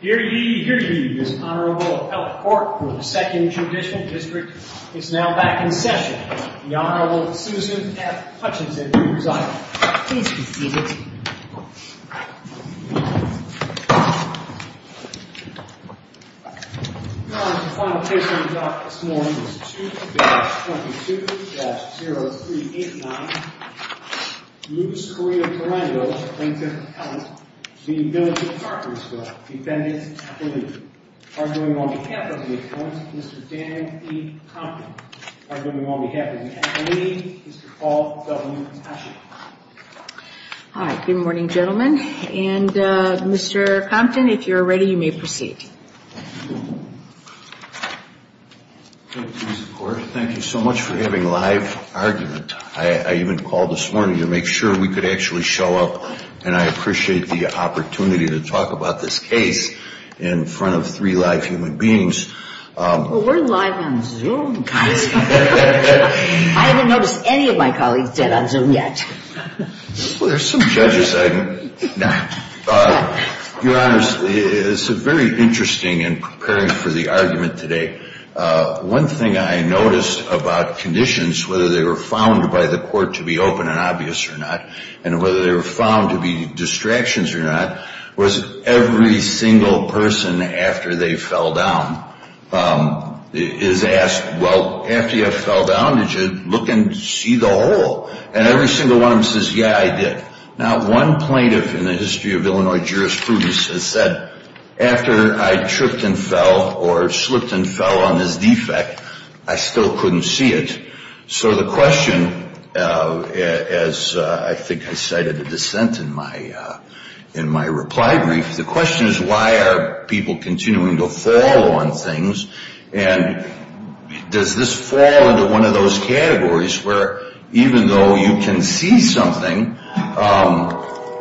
Hear ye, hear ye, this Honorable Appellate Court of the 2nd Judicial District is now back in session. The Honorable Susan F. Hutchinson will preside. Please be seated. Your Honor, the final case we will be talking about this morning is 2-22-0389 Luis Correa Tarango, plaintiff's appellant, v. Village of Carpentersville, defendant's appellate Arguing on behalf of the appellant, Mr. Dan E. Compton Arguing on behalf of the appellate, Mr. Paul W. Asher Hi, good morning gentlemen. And Mr. Compton, if you're ready you may proceed. Thank you, Mr. Court. Thank you so much for having a live argument. I even called this morning to make sure we could actually show up and I appreciate the opportunity to talk about this case in front of three live human beings. Well, we're live on Zoom, guys. I haven't noticed any of my colleagues dead on Zoom yet. Well, there's some judges I've met. Your Honor, it's very interesting in preparing for the argument today. One thing I noticed about conditions, whether they were found by the court to be open and obvious or not and whether they were found to be distractions or not, was every single person after they fell down is asked, well, after you fell down, did you look and see the hole? And every single one of them says, yeah, I did. Now one plaintiff in the history of Illinois jurisprudence has said, after I tripped and fell or slipped and fell on this defect, I still couldn't see it. So the question, as I think I cited a dissent in my reply brief, the question is why are people continuing to fall on things? And does this fall into one of those categories where even though you can see something,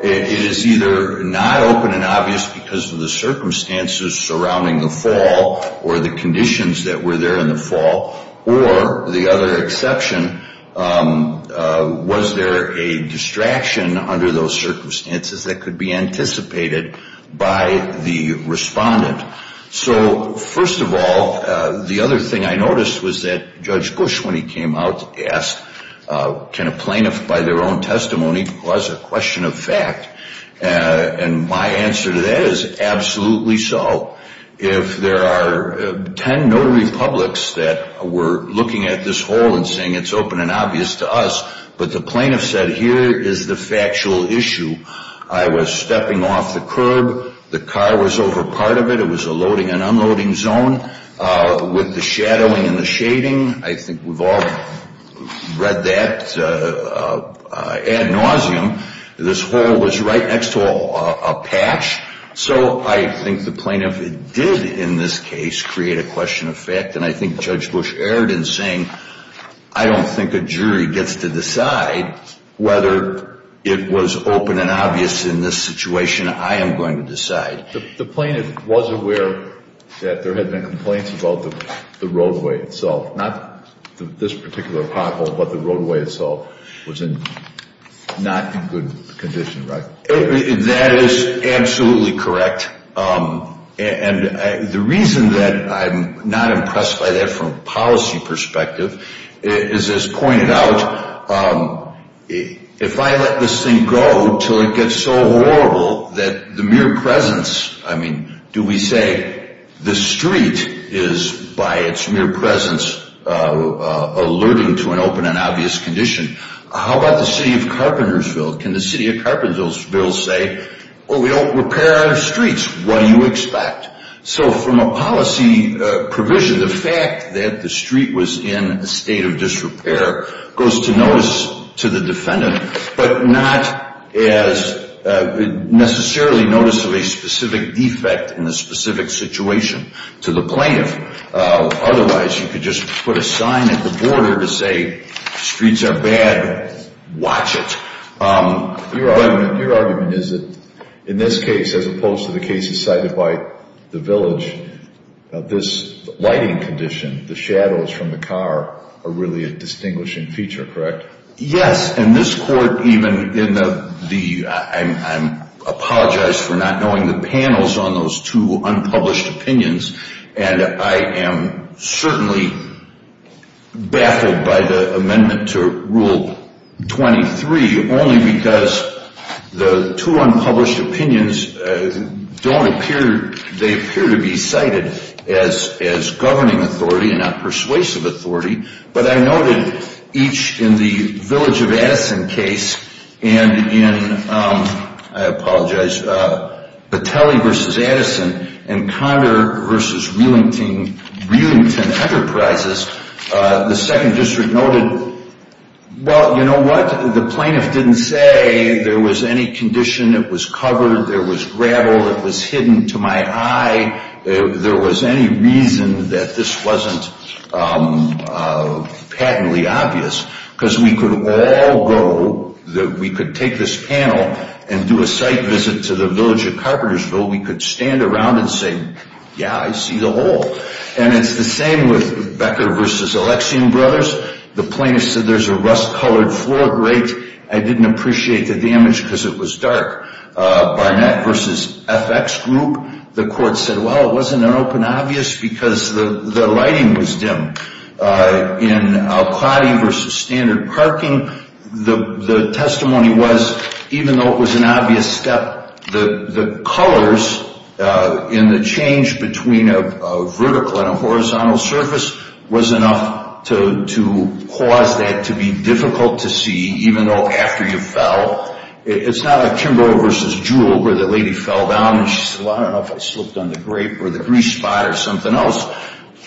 it is either not open and obvious because of the circumstances surrounding the fall or the conditions that were there in the fall, or the other exception, was there a distraction under those circumstances that could be anticipated by the respondent? So first of all, the other thing I noticed was that Judge Gush, when he came out, asked can a plaintiff, by their own testimony, cause a question of fact? And my answer to that is absolutely so. If there are ten notary publics that were looking at this hole and saying it's open and obvious to us, but the plaintiff said here is the factual issue, I was stepping off the curb, the car was over part of it, it was a loading and unloading zone, with the shadowing and the shading, I think we've all read that ad nauseum, this hole was right next to a patch. So I think the plaintiff did in this case create a question of fact, and I think Judge Gush erred in saying I don't think a jury gets to decide whether it was open and obvious in this situation, I am going to decide. The plaintiff was aware that there had been complaints about the roadway itself, not this particular pothole, but the roadway itself was not in good condition, right? That is absolutely correct. And the reason that I'm not impressed by that from a policy perspective is as pointed out, if I let this thing go until it gets so horrible that the mere presence, I mean, do we say the street is by its mere presence alerting to an open and obvious condition, how about the city of Carpentersville, can the city of Carpentersville say, we don't repair our streets, what do you expect? So from a policy provision, the fact that the street was in a state of disrepair goes to notice to the defendant, but not as necessarily notice of a specific defect in a specific situation to the plaintiff. Otherwise, you could just put a sign at the border to say streets are bad, watch it. Your argument is that in this case, as opposed to the cases cited by the village, this lighting condition, the shadows from the car are really a distinguishing feature, correct? Yes, and this court even in the, I apologize for not knowing the panels on those two unpublished opinions, and I am certainly baffled by the amendment to Rule 23, only because the two unpublished opinions don't appear, they appear to be cited as governing authority and not persuasive authority, but I noted each in the village of Addison case, and in, I apologize, Battelli versus Addison, and Conner versus Wheelington Enterprises, the second district noted, well, you know what, the plaintiff didn't say there was any condition that was covered, there was gravel that was hidden to my eye, there was any reason that this wasn't patently obvious, because we could all go, we could take this panel and do a site visit to the village of Carpentersville, we could stand around and say, yeah, I see the hole. And it's the same with Becker versus Alexian Brothers, the plaintiff said there's a rust-colored floor grate, I didn't appreciate the damage because it was dark. Barnett versus FX Group, the court said, well, it wasn't an open obvious because the lighting was dim. In Al-Qadi versus Standard Parking, the testimony was, even though it was an obvious step, the colors in the change between a vertical and a horizontal surface was enough to cause that to be difficult to see, even though after you fell. It's not a Kimbrough versus Jewell where the lady fell down and she said, well, I don't know if I slipped on the grate or the grease spot or something else.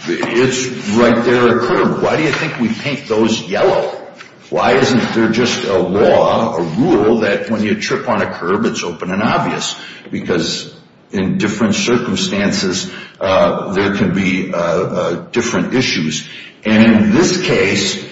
It's right there on the curb. Why do you think we paint those yellow? Why isn't there just a law, a rule, that when you trip on a curb, it's open and obvious? Because in different circumstances, there can be different issues. And in this case,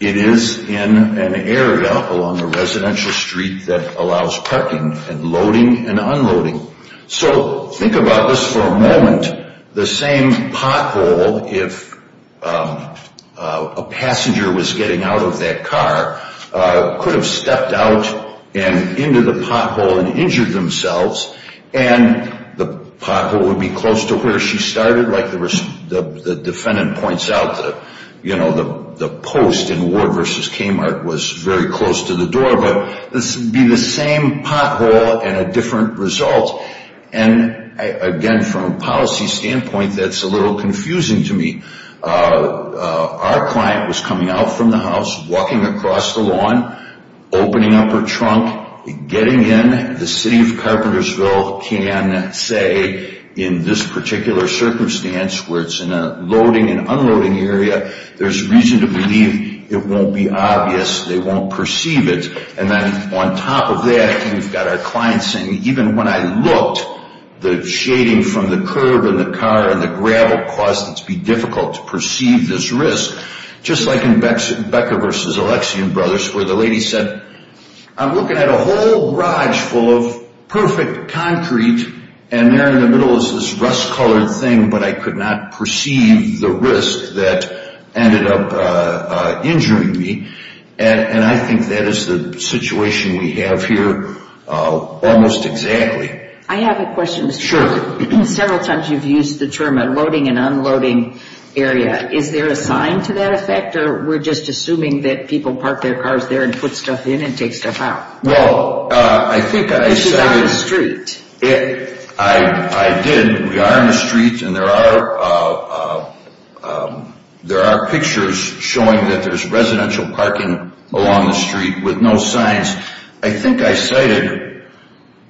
it is in an area along a residential street that allows parking and loading and unloading. So think about this for a moment. The same pothole, if a passenger was getting out of that car, could have stepped out and into the pothole and injured themselves, and the pothole would be close to where she started, like the defendant points out, the post in Ward versus Kmart was very close to the door, but this would be the same pothole and a different result. And again, from a policy standpoint, that's a little confusing to me. Our client was coming out from the house, walking across the lawn, opening up her trunk, getting in. The city of Carpentersville can say in this particular circumstance, where it's in a loading and unloading area, there's reason to believe it won't be obvious. They won't perceive it. And then on top of that, we've got our client saying, even when I looked, the shading from the curb and the car and the gravel caused it to be difficult to perceive this risk. Just like in Becker versus Alexian Brothers, where the lady said, I'm looking at a whole garage full of perfect concrete, and there in the middle is this rust-colored thing, but I could not perceive the risk that ended up injuring me. And I think that is the situation we have here almost exactly. I have a question. Sure. Several times you've used the term unloading and unloading area. Is there a sign to that effect, or we're just assuming that people park their cars there and put stuff in and take stuff out? Well, I think I said it. This is on the street. I did. We are on the street, and there are pictures showing that there's residential parking along the street with no signs. I think I cited,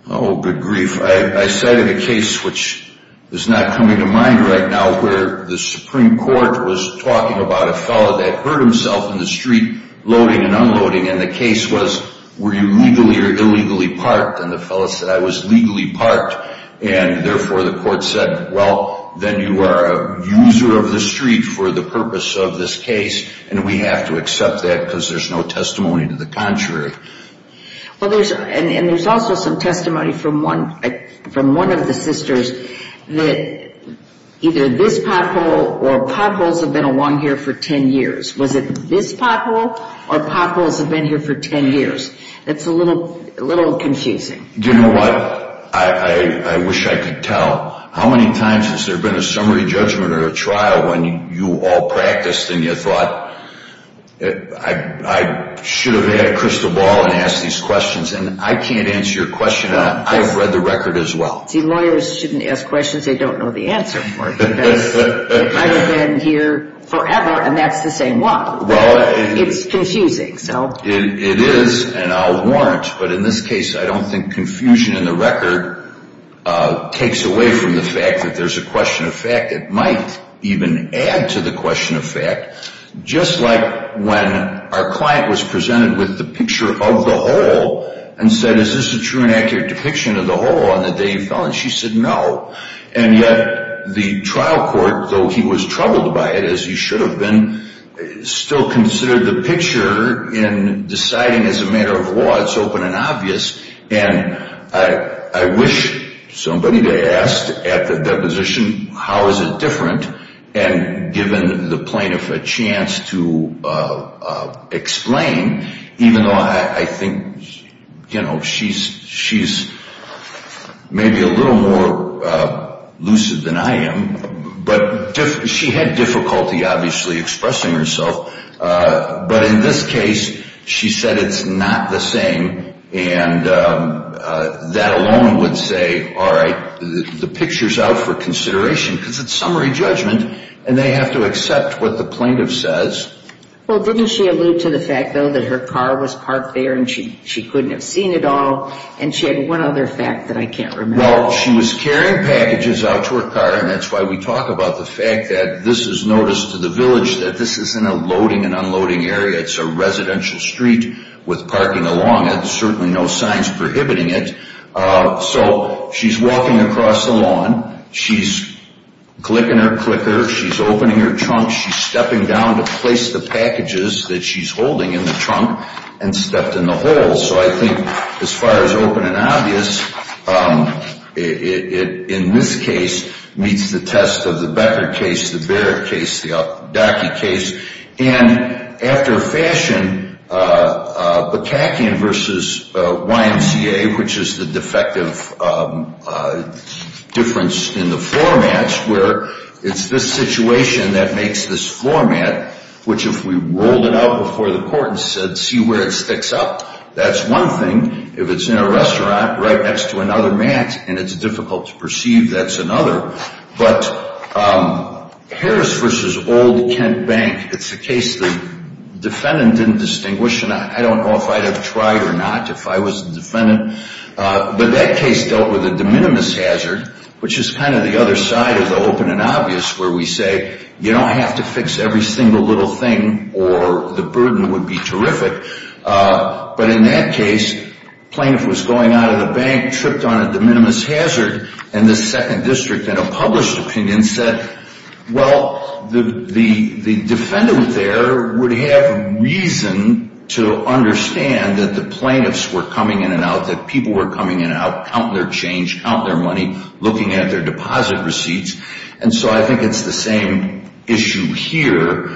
oh, good grief, I cited a case which is not coming to mind right now, where the Supreme Court was talking about a fellow that hurt himself in the street loading and unloading, and the case was, were you legally or illegally parked? And the fellow said, I was legally parked. And, therefore, the court said, well, then you are a user of the street for the purpose of this case, and we have to accept that because there's no testimony to the contrary. Well, and there's also some testimony from one of the sisters that either this pothole or potholes have been along here for 10 years. Was it this pothole or potholes have been here for 10 years? It's a little confusing. Do you know what? I wish I could tell. How many times has there been a summary judgment or a trial when you all practiced and you thought I should have had a crystal ball and asked these questions, and I can't answer your question, and I've read the record as well. See, lawyers shouldn't ask questions they don't know the answer for because it might have been here forever, and that's the same one. It's confusing. It is, and I'll warrant, but in this case I don't think confusion in the record takes away from the fact that there's a question of fact. It might even add to the question of fact. Just like when our client was presented with the picture of the hole and said, is this a true and accurate depiction of the hole on the day he fell? And she said no. And yet the trial court, though he was troubled by it, as he should have been, still considered the picture in deciding as a matter of law it's open and obvious, and I wish somebody had asked at the deposition how is it different and given the plaintiff a chance to explain, even though I think, you know, she's maybe a little more lucid than I am, but she had difficulty obviously expressing herself, but in this case she said it's not the same, and that alone would say, all right, the picture's out for consideration because it's summary judgment and they have to accept what the plaintiff says. Well, didn't she allude to the fact, though, that her car was parked there and she couldn't have seen it all, and she had one other fact that I can't remember? Well, she was carrying packages out to her car, and that's why we talk about the fact that this is notice to the village that this isn't a loading and unloading area. It's a residential street with parking along it, certainly no signs prohibiting it. So she's walking across the lawn. She's clicking her clicker. She's opening her trunk. She's stepping down to place the packages that she's holding in the trunk and stepped in the hole. So I think as far as open and obvious, in this case it meets the test of the Becker case, the Barrett case, the Adachi case. And after a fashion, Bukakian v. YMCA, which is the defective difference in the formats, where it's this situation that makes this format, which if we rolled it out before the court and said see where it sticks up, that's one thing. If it's in a restaurant right next to another mat and it's difficult to perceive, that's another. But Harris v. Old Kent Bank, it's a case the defendant didn't distinguish, and I don't know if I'd have tried or not if I was the defendant. But that case dealt with a de minimis hazard, which is kind of the other side of the open and obvious, where we say you don't have to fix every single little thing or the burden would be terrific. But in that case, the plaintiff was going out of the bank, tripped on a de minimis hazard, and the second district in a published opinion said, well, the defendant there would have reason to understand that the plaintiffs were coming in and out, that people were coming in and out, counting their change, counting their money, looking at their deposit receipts. And so I think it's the same issue here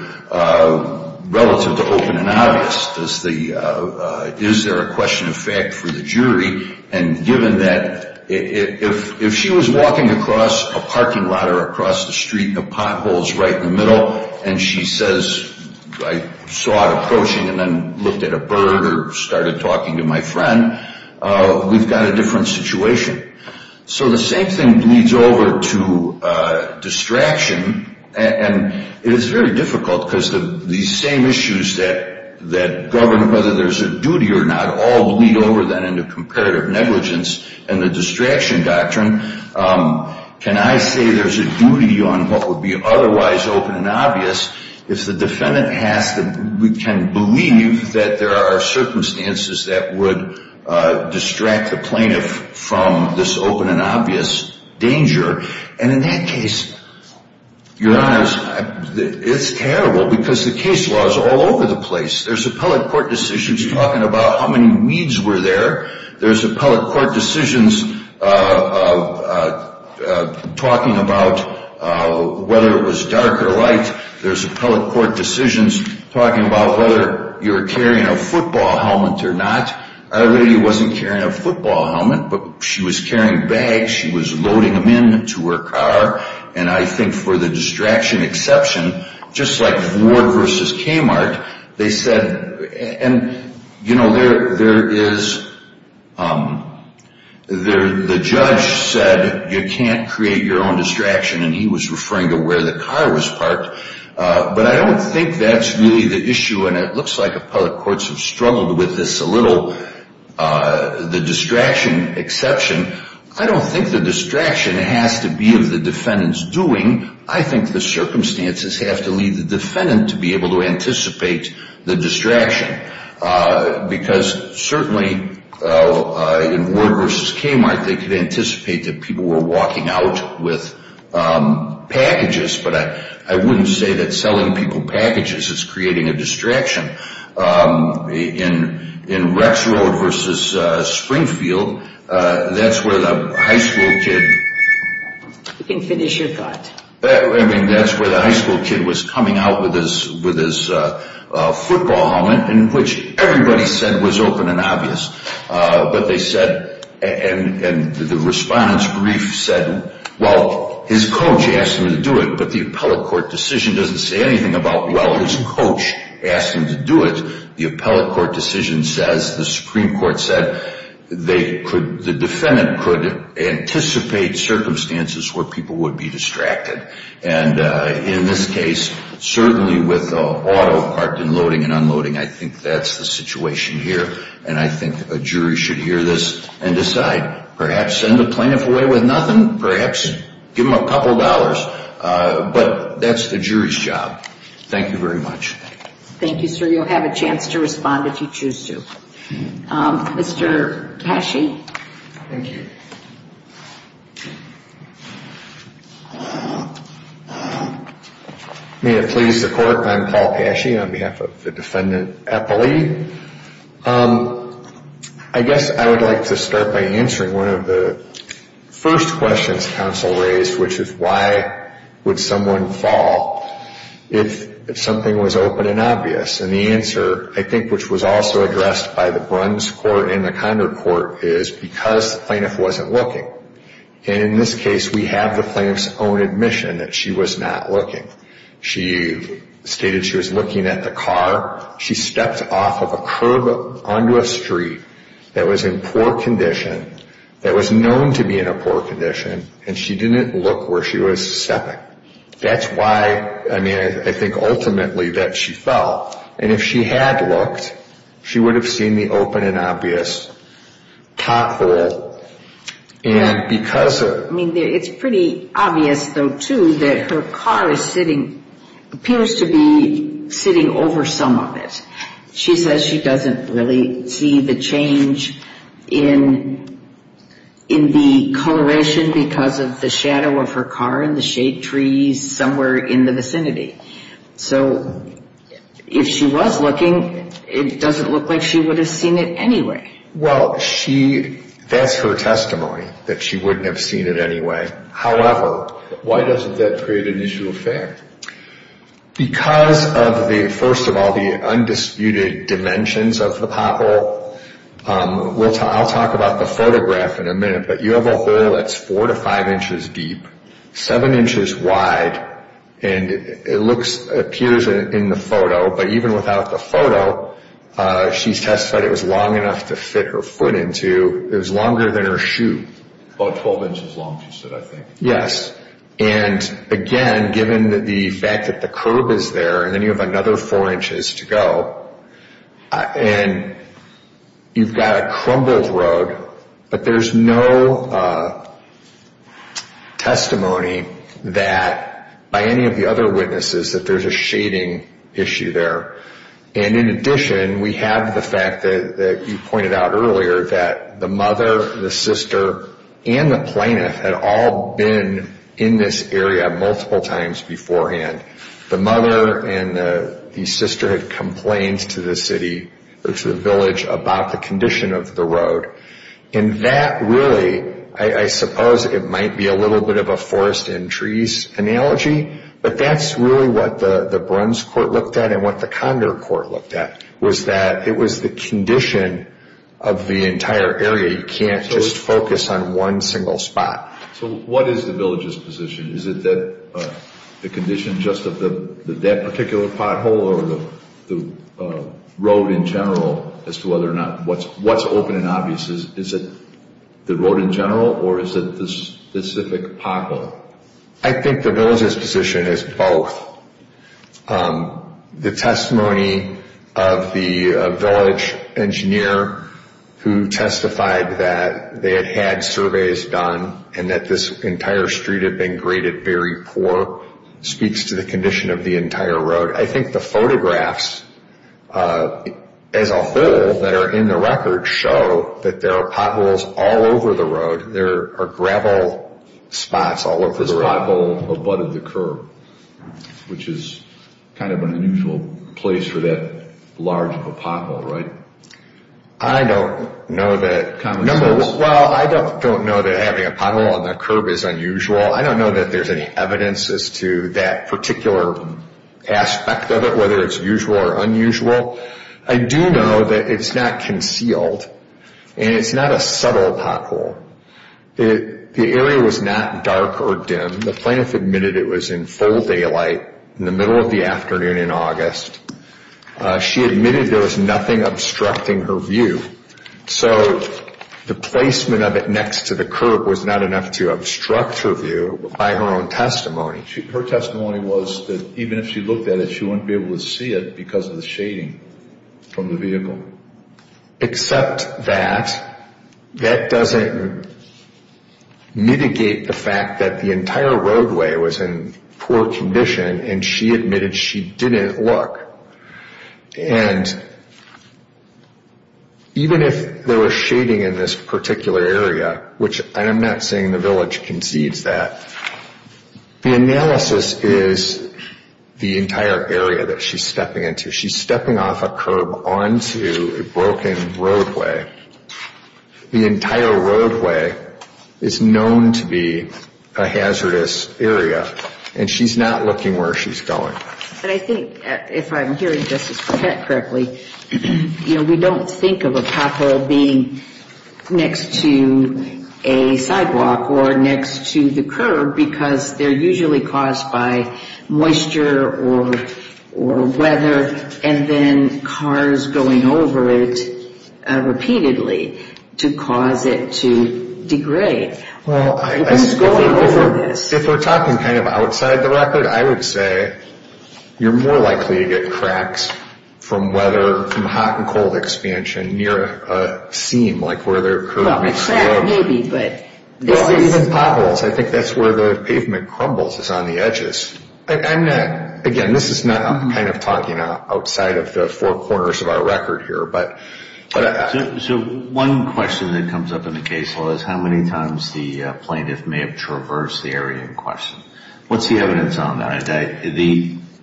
relative to open and obvious. Is there a question of fact for the jury? And given that if she was walking across a parking lot or across the street in the potholes right in the middle and she says I saw it approaching and then looked at a bird or started talking to my friend, we've got a different situation. So the same thing bleeds over to distraction. And it is very difficult because these same issues that govern whether there's a duty or not all bleed over then into comparative negligence and the distraction doctrine. Can I say there's a duty on what would be otherwise open and obvious if the defendant can believe that there are circumstances that would distract the plaintiff from this open and obvious danger? And in that case, Your Honors, it's terrible because the case law is all over the place. There's appellate court decisions talking about how many weeds were there. There's appellate court decisions talking about whether it was dark or light. There's appellate court decisions talking about whether you're carrying a football helmet or not. Our lady wasn't carrying a football helmet, but she was carrying bags. She was loading them into her car. And I think for the distraction exception, just like Ward v. Kmart, they said, and, you know, there is the judge said you can't create your own distraction and he was referring to where the car was parked. But I don't think that's really the issue, and it looks like appellate courts have struggled with this a little, the distraction exception. I don't think the distraction has to be of the defendant's doing. I think the circumstances have to leave the defendant to be able to anticipate the distraction because certainly in Ward v. Kmart they could anticipate that people were walking out with packages, but I wouldn't say that selling people packages is creating a distraction. In Rex Road v. Springfield, that's where the high school kid was coming out with his football helmet, in which everybody said was open and obvious. But they said, and the respondent's brief said, well, his coach asked him to do it, but the appellate court decision doesn't say anything about, well, his coach asked him to do it. The appellate court decision says, the Supreme Court said, the defendant could anticipate circumstances where people would be distracted. And in this case, certainly with auto parked and loading and unloading, I think that's the situation here, and I think a jury should hear this and decide, perhaps send a plaintiff away with nothing, perhaps give them a couple dollars, but that's the jury's job. Thank you very much. Thank you, sir. You'll have a chance to respond if you choose to. Mr. Cachey. Thank you. May it please the Court, I'm Paul Cachey on behalf of the Defendant Appellee. I guess I would like to start by answering one of the first questions counsel raised, which is why would someone fall if something was open and obvious? And the answer, I think, which was also addressed by the Bruns Court and the Condor Court, is because the plaintiff wasn't looking. And in this case, we have the plaintiff's own admission that she was not looking. She stated she was looking at the car. She stepped off of a curb onto a street that was in poor condition, that was known to be in a poor condition, and she didn't look where she was stepping. That's why, I mean, I think ultimately that she fell. And if she had looked, she would have seen the open and obvious pothole. And because of... I mean, it's pretty obvious, though, too, that her car is sitting, appears to be sitting over some of it. She says she doesn't really see the change in the coloration because of the shadow of her car and the shade trees somewhere in the vicinity. So if she was looking, it doesn't look like she would have seen it anyway. Well, that's her testimony, that she wouldn't have seen it anyway. However... Why doesn't that create an issue of fair? Because of the, first of all, the undisputed dimensions of the pothole. I'll talk about the photograph in a minute, but you have a hole that's 4 to 5 inches deep, 7 inches wide, and it appears in the photo, but even without the photo, she's testified it was long enough to fit her foot into. It was longer than her shoe. About 12 inches long, she said, I think. Yes. And again, given the fact that the curb is there, and then you have another 4 inches to go, and you've got a crumbled rug, but there's no testimony that, by any of the other witnesses, that there's a shading issue there. And in addition, we have the fact that you pointed out earlier, that the mother, the sister, and the plaintiff had all been in this area multiple times beforehand. The mother and the sister had complained to the city or to the village about the condition of the road. And that really, I suppose it might be a little bit of a forest and trees analogy, but that's really what the Bruns Court looked at and what the Condor Court looked at, was that it was the condition of the entire area. You can't just focus on one single spot. So what is the village's position? Is it the condition just of that particular pothole or the road in general as to whether or not what's open and obvious? Is it the road in general, or is it the specific pothole? I think the village's position is both. The testimony of the village engineer who testified that they had had surveys done and that this entire street had been graded very poor speaks to the condition of the entire road. I think the photographs, as a whole, that are in the record show that there are potholes all over the road. There are gravel spots all over the road. This pothole abutted the curb, which is kind of an unusual place for that large of a pothole, right? I don't know that having a pothole on the curb is unusual. I don't know that there's any evidence as to that particular aspect of it, whether it's usual or unusual. I do know that it's not concealed and it's not a subtle pothole. The area was not dark or dim. The plaintiff admitted it was in full daylight in the middle of the afternoon in August. She admitted there was nothing obstructing her view, so the placement of it next to the curb was not enough to obstruct her view by her own testimony. Her testimony was that even if she looked at it, she wouldn't be able to see it because of the shading from the vehicle. Except that, that doesn't mitigate the fact that the entire roadway was in poor condition, and she admitted she didn't look. Even if there was shading in this particular area, which I'm not saying the village concedes that, the analysis is the entire area that she's stepping into. She's stepping off a curb onto a broken roadway. The entire roadway is known to be a hazardous area, and she's not looking where she's going. But I think, if I'm hearing Justice Pratt correctly, you know, we don't think of a pothole being next to a sidewalk or next to the curb because they're usually caused by moisture or weather, and then cars going over it repeatedly to cause it to degrade. If we're talking kind of outside the record, I would say you're more likely to get cracks from weather, from hot and cold expansion near a seam, like where there are curbs. Well, even potholes, I think that's where the pavement crumbles, is on the edges. Again, this is not, I'm kind of talking outside of the four corners of our record here. So one question that comes up in the case law is how many times the plaintiff may have traversed the area in question. What's the evidence on that?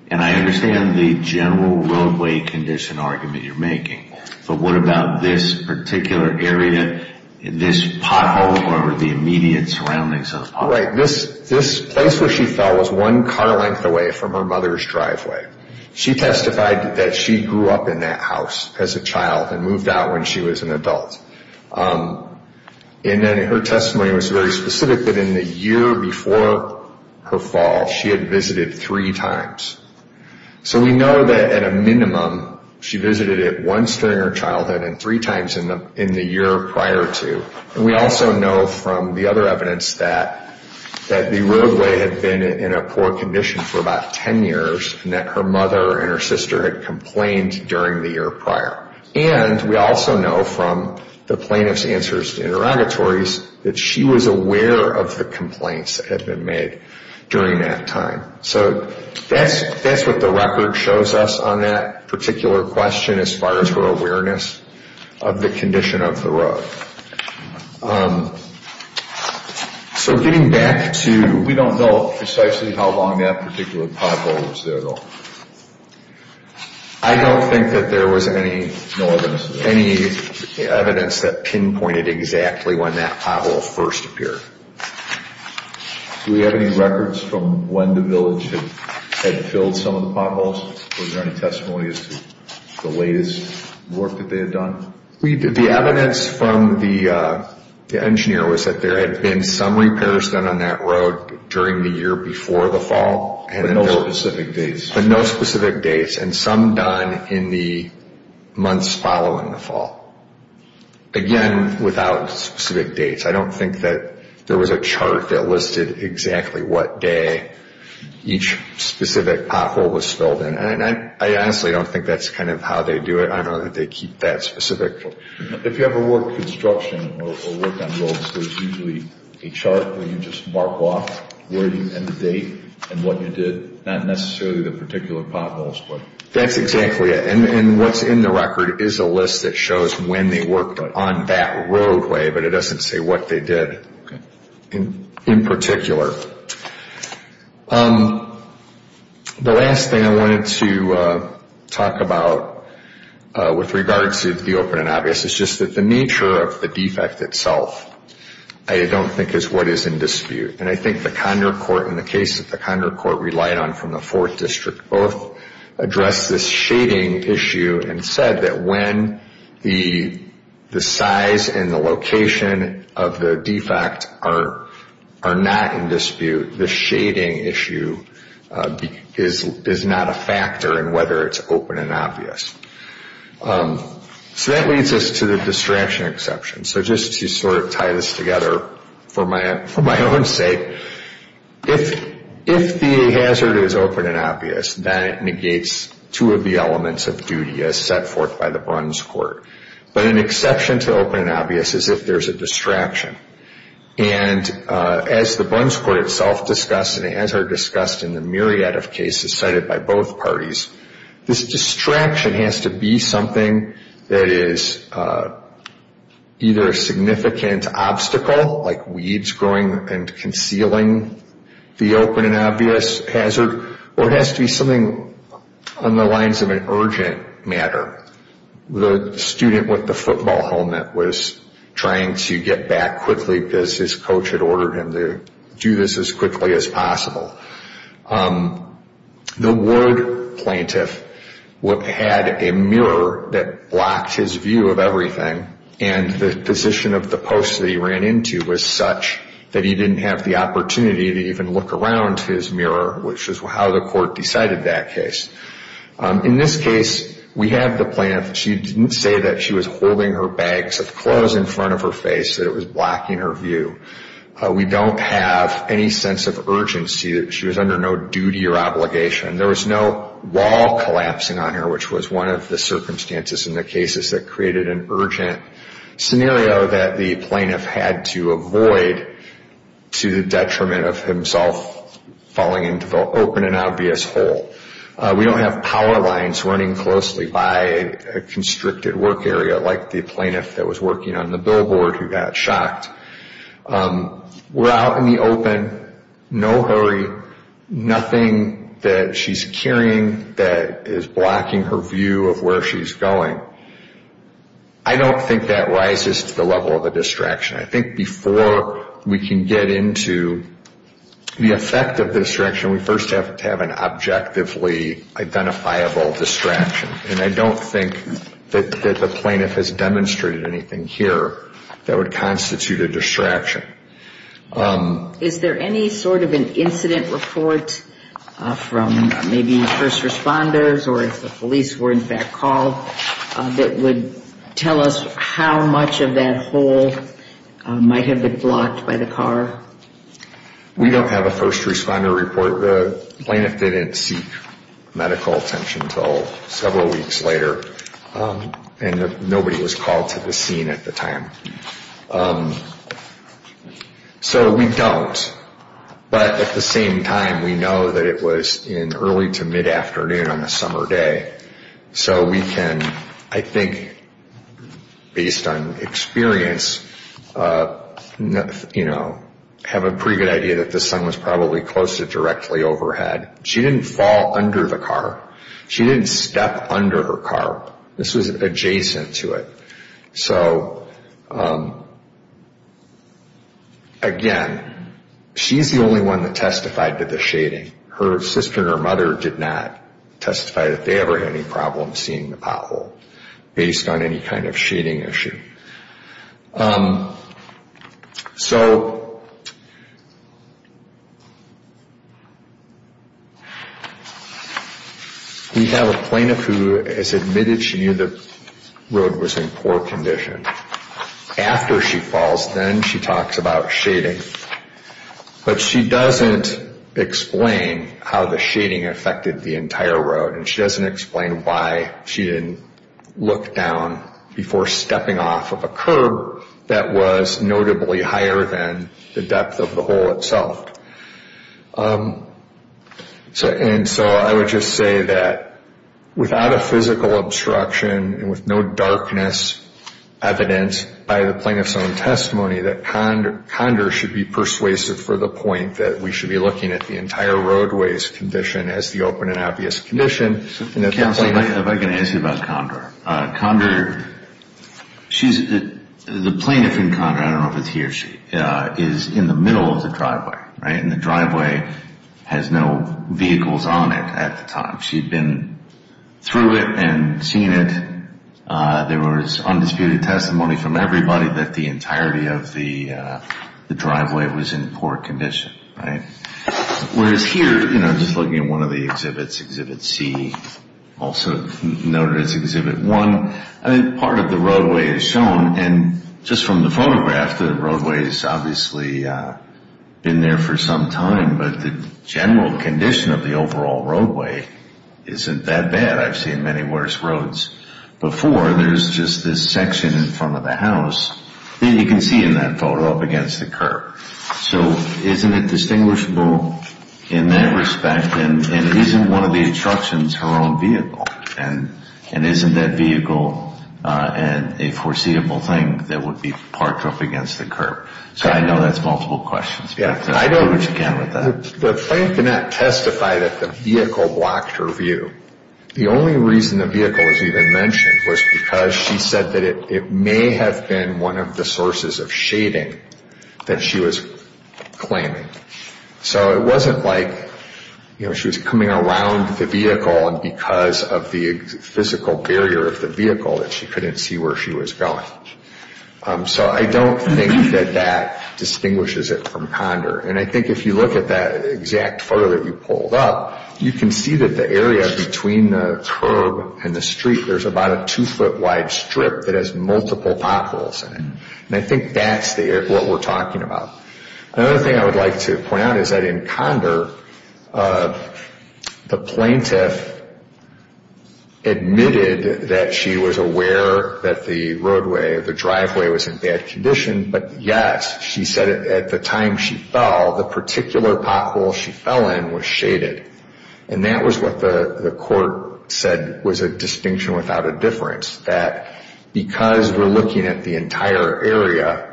And I understand the general roadway condition argument you're making, but what about this particular area, this pothole or the immediate surroundings of the pothole? Right. This place where she fell was one car length away from her mother's driveway. She testified that she grew up in that house as a child and moved out when she was an adult. And then her testimony was very specific that in the year before her fall, she had visited three times. So we know that at a minimum, she visited it once during her childhood and three times in the year prior to. And we also know from the other evidence that the roadway had been in a poor condition for about 10 years and that her mother and her sister had complained during the year prior. And we also know from the plaintiff's answers to interrogatories that she was aware of the complaints that had been made during that time. So that's what the record shows us on that particular question as far as her awareness of the condition of the road. So getting back to... We don't know precisely how long that particular pothole was there at all. I don't think that there was any evidence that pinpointed exactly when that pothole first appeared. Do we have any records from when the village had filled some of the potholes? Was there any testimonies to the latest work that they had done? The evidence from the engineer was that there had been some repairs done on that road during the year before the fall. But no specific dates? But no specific dates, and some done in the months following the fall. Again, without specific dates. I don't think that there was a chart that listed exactly what day each specific pothole was filled in. And I honestly don't think that's kind of how they do it. I don't know that they keep that specific. If you have a work in construction or work on roads, there's usually a chart where you just mark off where you ended the date and what you did. Not necessarily the particular potholes, but... That's exactly it. And what's in the record is a list that shows when they worked on that roadway, but it doesn't say what they did in particular. The last thing I wanted to talk about with regards to the open and obvious is just that the nature of the defect itself I don't think is what is in dispute. And I think the Condor Court and the case that the Condor Court relied on from the 4th District both addressed this shading issue and said that when the size and the location of the defect are not in dispute, the shading issue is not a factor in whether it's open and obvious. So that leads us to the distraction exception. So just to sort of tie this together for my own sake, if the hazard is open and obvious, that negates two of the elements of duty as set forth by the Bruns Court. But an exception to open and obvious is if there's a distraction. And as the Bruns Court itself discussed, and as are discussed in the myriad of cases cited by both parties, this distraction has to be something that is either a significant obstacle, like weeds growing and concealing the open and obvious hazard, or it has to be something on the lines of an urgent matter. The student with the football helmet was trying to get back quickly because his coach had ordered him to do this as quickly as possible. The ward plaintiff had a mirror that blocked his view of everything and the position of the post that he ran into was such that he didn't have the opportunity to even look around his mirror, which is how the court decided that case. In this case, we have the plaintiff. She didn't say that she was holding her bags of clothes in front of her face, that it was blocking her view. We don't have any sense of urgency that she was under no duty or obligation. There was no wall collapsing on her, which was one of the circumstances in the cases that created an urgent scenario that the plaintiff had to avoid to the detriment of himself falling into the open and obvious hole. We don't have power lines running closely by a constricted work area, like the plaintiff that was working on the billboard who got shocked. We're out in the open, no hurry, nothing that she's carrying that is blocking her view of where she's going. I don't think that rises to the level of a distraction. I think before we can get into the effect of the distraction, we first have to have an objectively identifiable distraction, and I don't think that the plaintiff has demonstrated anything here that would constitute a distraction. Is there any sort of an incident report from maybe first responders or if the police were in fact called that would tell us how much of that hole might have been blocked by the car? We don't have a first responder report. The plaintiff didn't seek medical attention until several weeks later, and nobody was called to the scene at the time. So we don't. But at the same time, we know that it was in early to mid-afternoon on a summer day. So we can, I think, based on experience, have a pretty good idea that this son was probably close to directly overhead. She didn't fall under the car. She didn't step under her car. This was adjacent to it. So, again, she's the only one that testified to the shading. Her sister and her mother did not testify that they ever had any problems seeing the pothole based on any kind of shading issue. So we have a plaintiff who has admitted she knew the road was in poor condition. After she falls, then she talks about shading. But she doesn't explain how the shading affected the entire road, and she doesn't explain why she didn't look down before stepping off of a curb that was notably higher than the depth of the hole itself. And so I would just say that without a physical obstruction and with no darkness evident by the plaintiff's own testimony, that Condor should be persuasive for the point that we should be looking at the entire roadway's condition as the open and obvious condition. Counsel, if I can ask you about Condor. Condor, the plaintiff in Condor, I don't know if it's he or she, is in the middle of the driveway. And the driveway has no vehicles on it at the time. She had been through it and seen it. There was undisputed testimony from everybody that the entirety of the driveway was in poor condition. Whereas here, just looking at one of the exhibits, Exhibit C, also noted as Exhibit 1, part of the roadway is shown. And just from the photograph, the roadway's obviously been there for some time, but the general condition of the overall roadway isn't that bad. I've seen many worse roads before. There's just this section in front of the house that you can see in that photo up against the curb. So isn't it distinguishable in that respect? And isn't one of the instructions her own vehicle? And isn't that vehicle a foreseeable thing that would be parked up against the curb? So I know that's multiple questions, but I'll do what you can with that. The plaintiff did not testify that the vehicle blocked her view. The only reason the vehicle was even mentioned was because she said that it may have been one of the sources of shading that she was claiming. So it wasn't like she was coming around the vehicle and because of the physical barrier of the vehicle that she couldn't see where she was going. So I don't think that that distinguishes it from Condor. And I think if you look at that exact photo that you pulled up, you can see that the area between the curb and the street, there's about a two-foot wide strip that has multiple potholes in it. And I think that's what we're talking about. Another thing I would like to point out is that in Condor, the plaintiff admitted that she was aware that the roadway, the driveway, was in bad condition. But yes, she said at the time she fell, the particular pothole she fell in was shaded. And that was what the court said was a distinction without a difference, that because we're looking at the entire area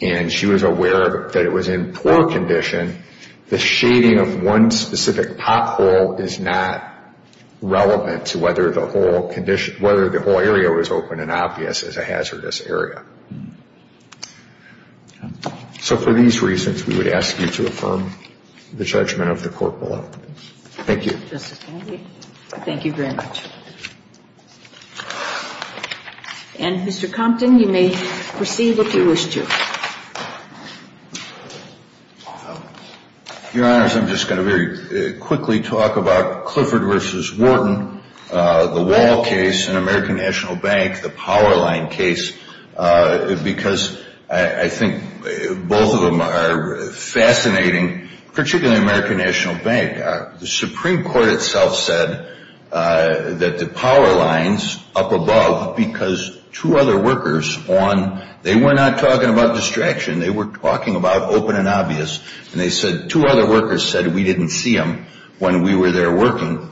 and she was aware that it was in poor condition, the shading of one specific pothole is not relevant to whether the whole area was open and obvious as a hazardous area. So for these reasons, we would ask you to affirm the judgment of the court below. Thank you. Justice Kennedy, thank you very much. And Mr. Compton, you may proceed if you wish to. Your Honors, I'm just going to very quickly talk about Clifford v. Wharton, the Wall case, and American National Bank, the Powerline case. Because I think both of them are fascinating, particularly American National Bank. The Supreme Court itself said that the Powerlines up above, because two other workers on, they were not talking about distraction. They were talking about open and obvious. And they said two other workers said we didn't see them when we were there working.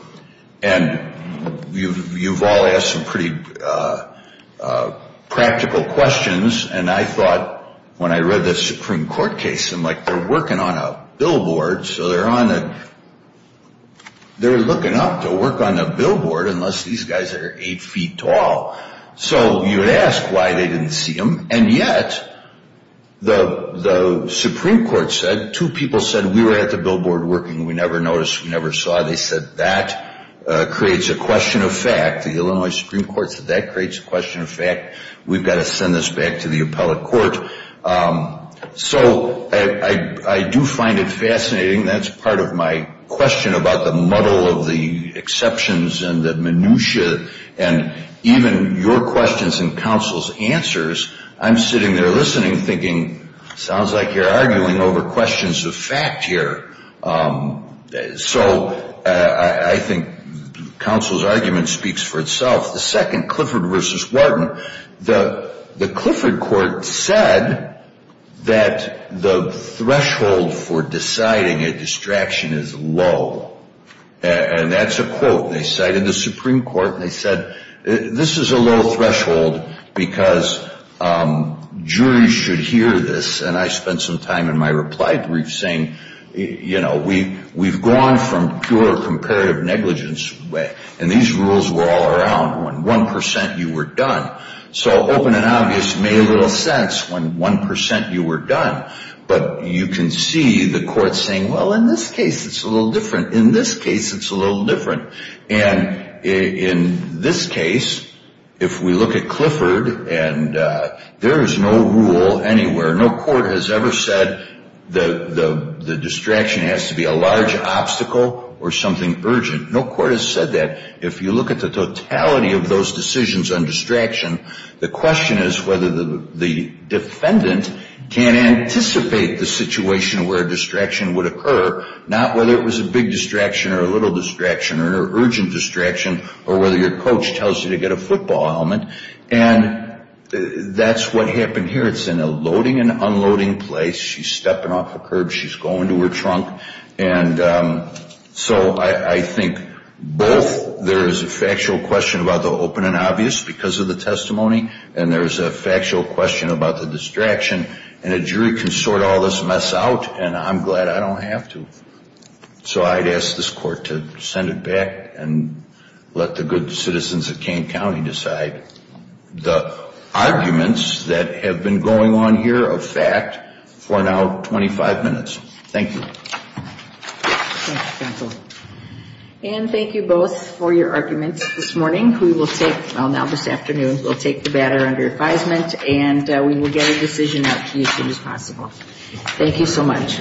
And you've all asked some pretty practical questions. And I thought when I read the Supreme Court case, I'm like, they're working on a billboard. So they're looking up to work on a billboard unless these guys are eight feet tall. So you ask why they didn't see them. And yet the Supreme Court said two people said we were at the billboard working. We never noticed. We never saw. They said that creates a question of fact. The Illinois Supreme Court said that creates a question of fact. We've got to send this back to the appellate court. So I do find it fascinating. That's part of my question about the muddle of the exceptions and the minutiae and even your questions and counsel's answers. I'm sitting there listening thinking sounds like you're arguing over questions of fact here. So I think counsel's argument speaks for itself. The second, Clifford v. Wharton. The Clifford court said that the threshold for deciding a distraction is low. And that's a quote. They cited the Supreme Court and they said this is a low threshold because juries should hear this. And I spent some time in my reply brief saying, you know, we've gone from pure comparative negligence and these rules were all around when 1% you were done. So open and obvious made a little sense when 1% you were done. But you can see the court saying, well, in this case it's a little different. In this case it's a little different. And in this case, if we look at Clifford and there is no rule anywhere, no court has ever said the distraction has to be a large obstacle or something urgent. No court has said that. If you look at the totality of those decisions on distraction, the question is whether the defendant can anticipate the situation where a distraction would occur, not whether it was a big distraction or a little distraction or an urgent distraction or whether your coach tells you to get a football helmet. And that's what happened here. It's in a loading and unloading place. She's stepping off a curb. She's going to her trunk. And so I think both there is a factual question about the open and obvious because of the testimony and there is a factual question about the distraction. And a jury can sort all this mess out, and I'm glad I don't have to. So I'd ask this court to send it back and let the good citizens of Kane County decide. The arguments that have been going on here are fact for now 25 minutes. Thank you. Thank you, counsel. And thank you both for your arguments this morning. We will take, well, now this afternoon, we'll take the batter under advisement and we will get a decision as soon as possible. Thank you so much.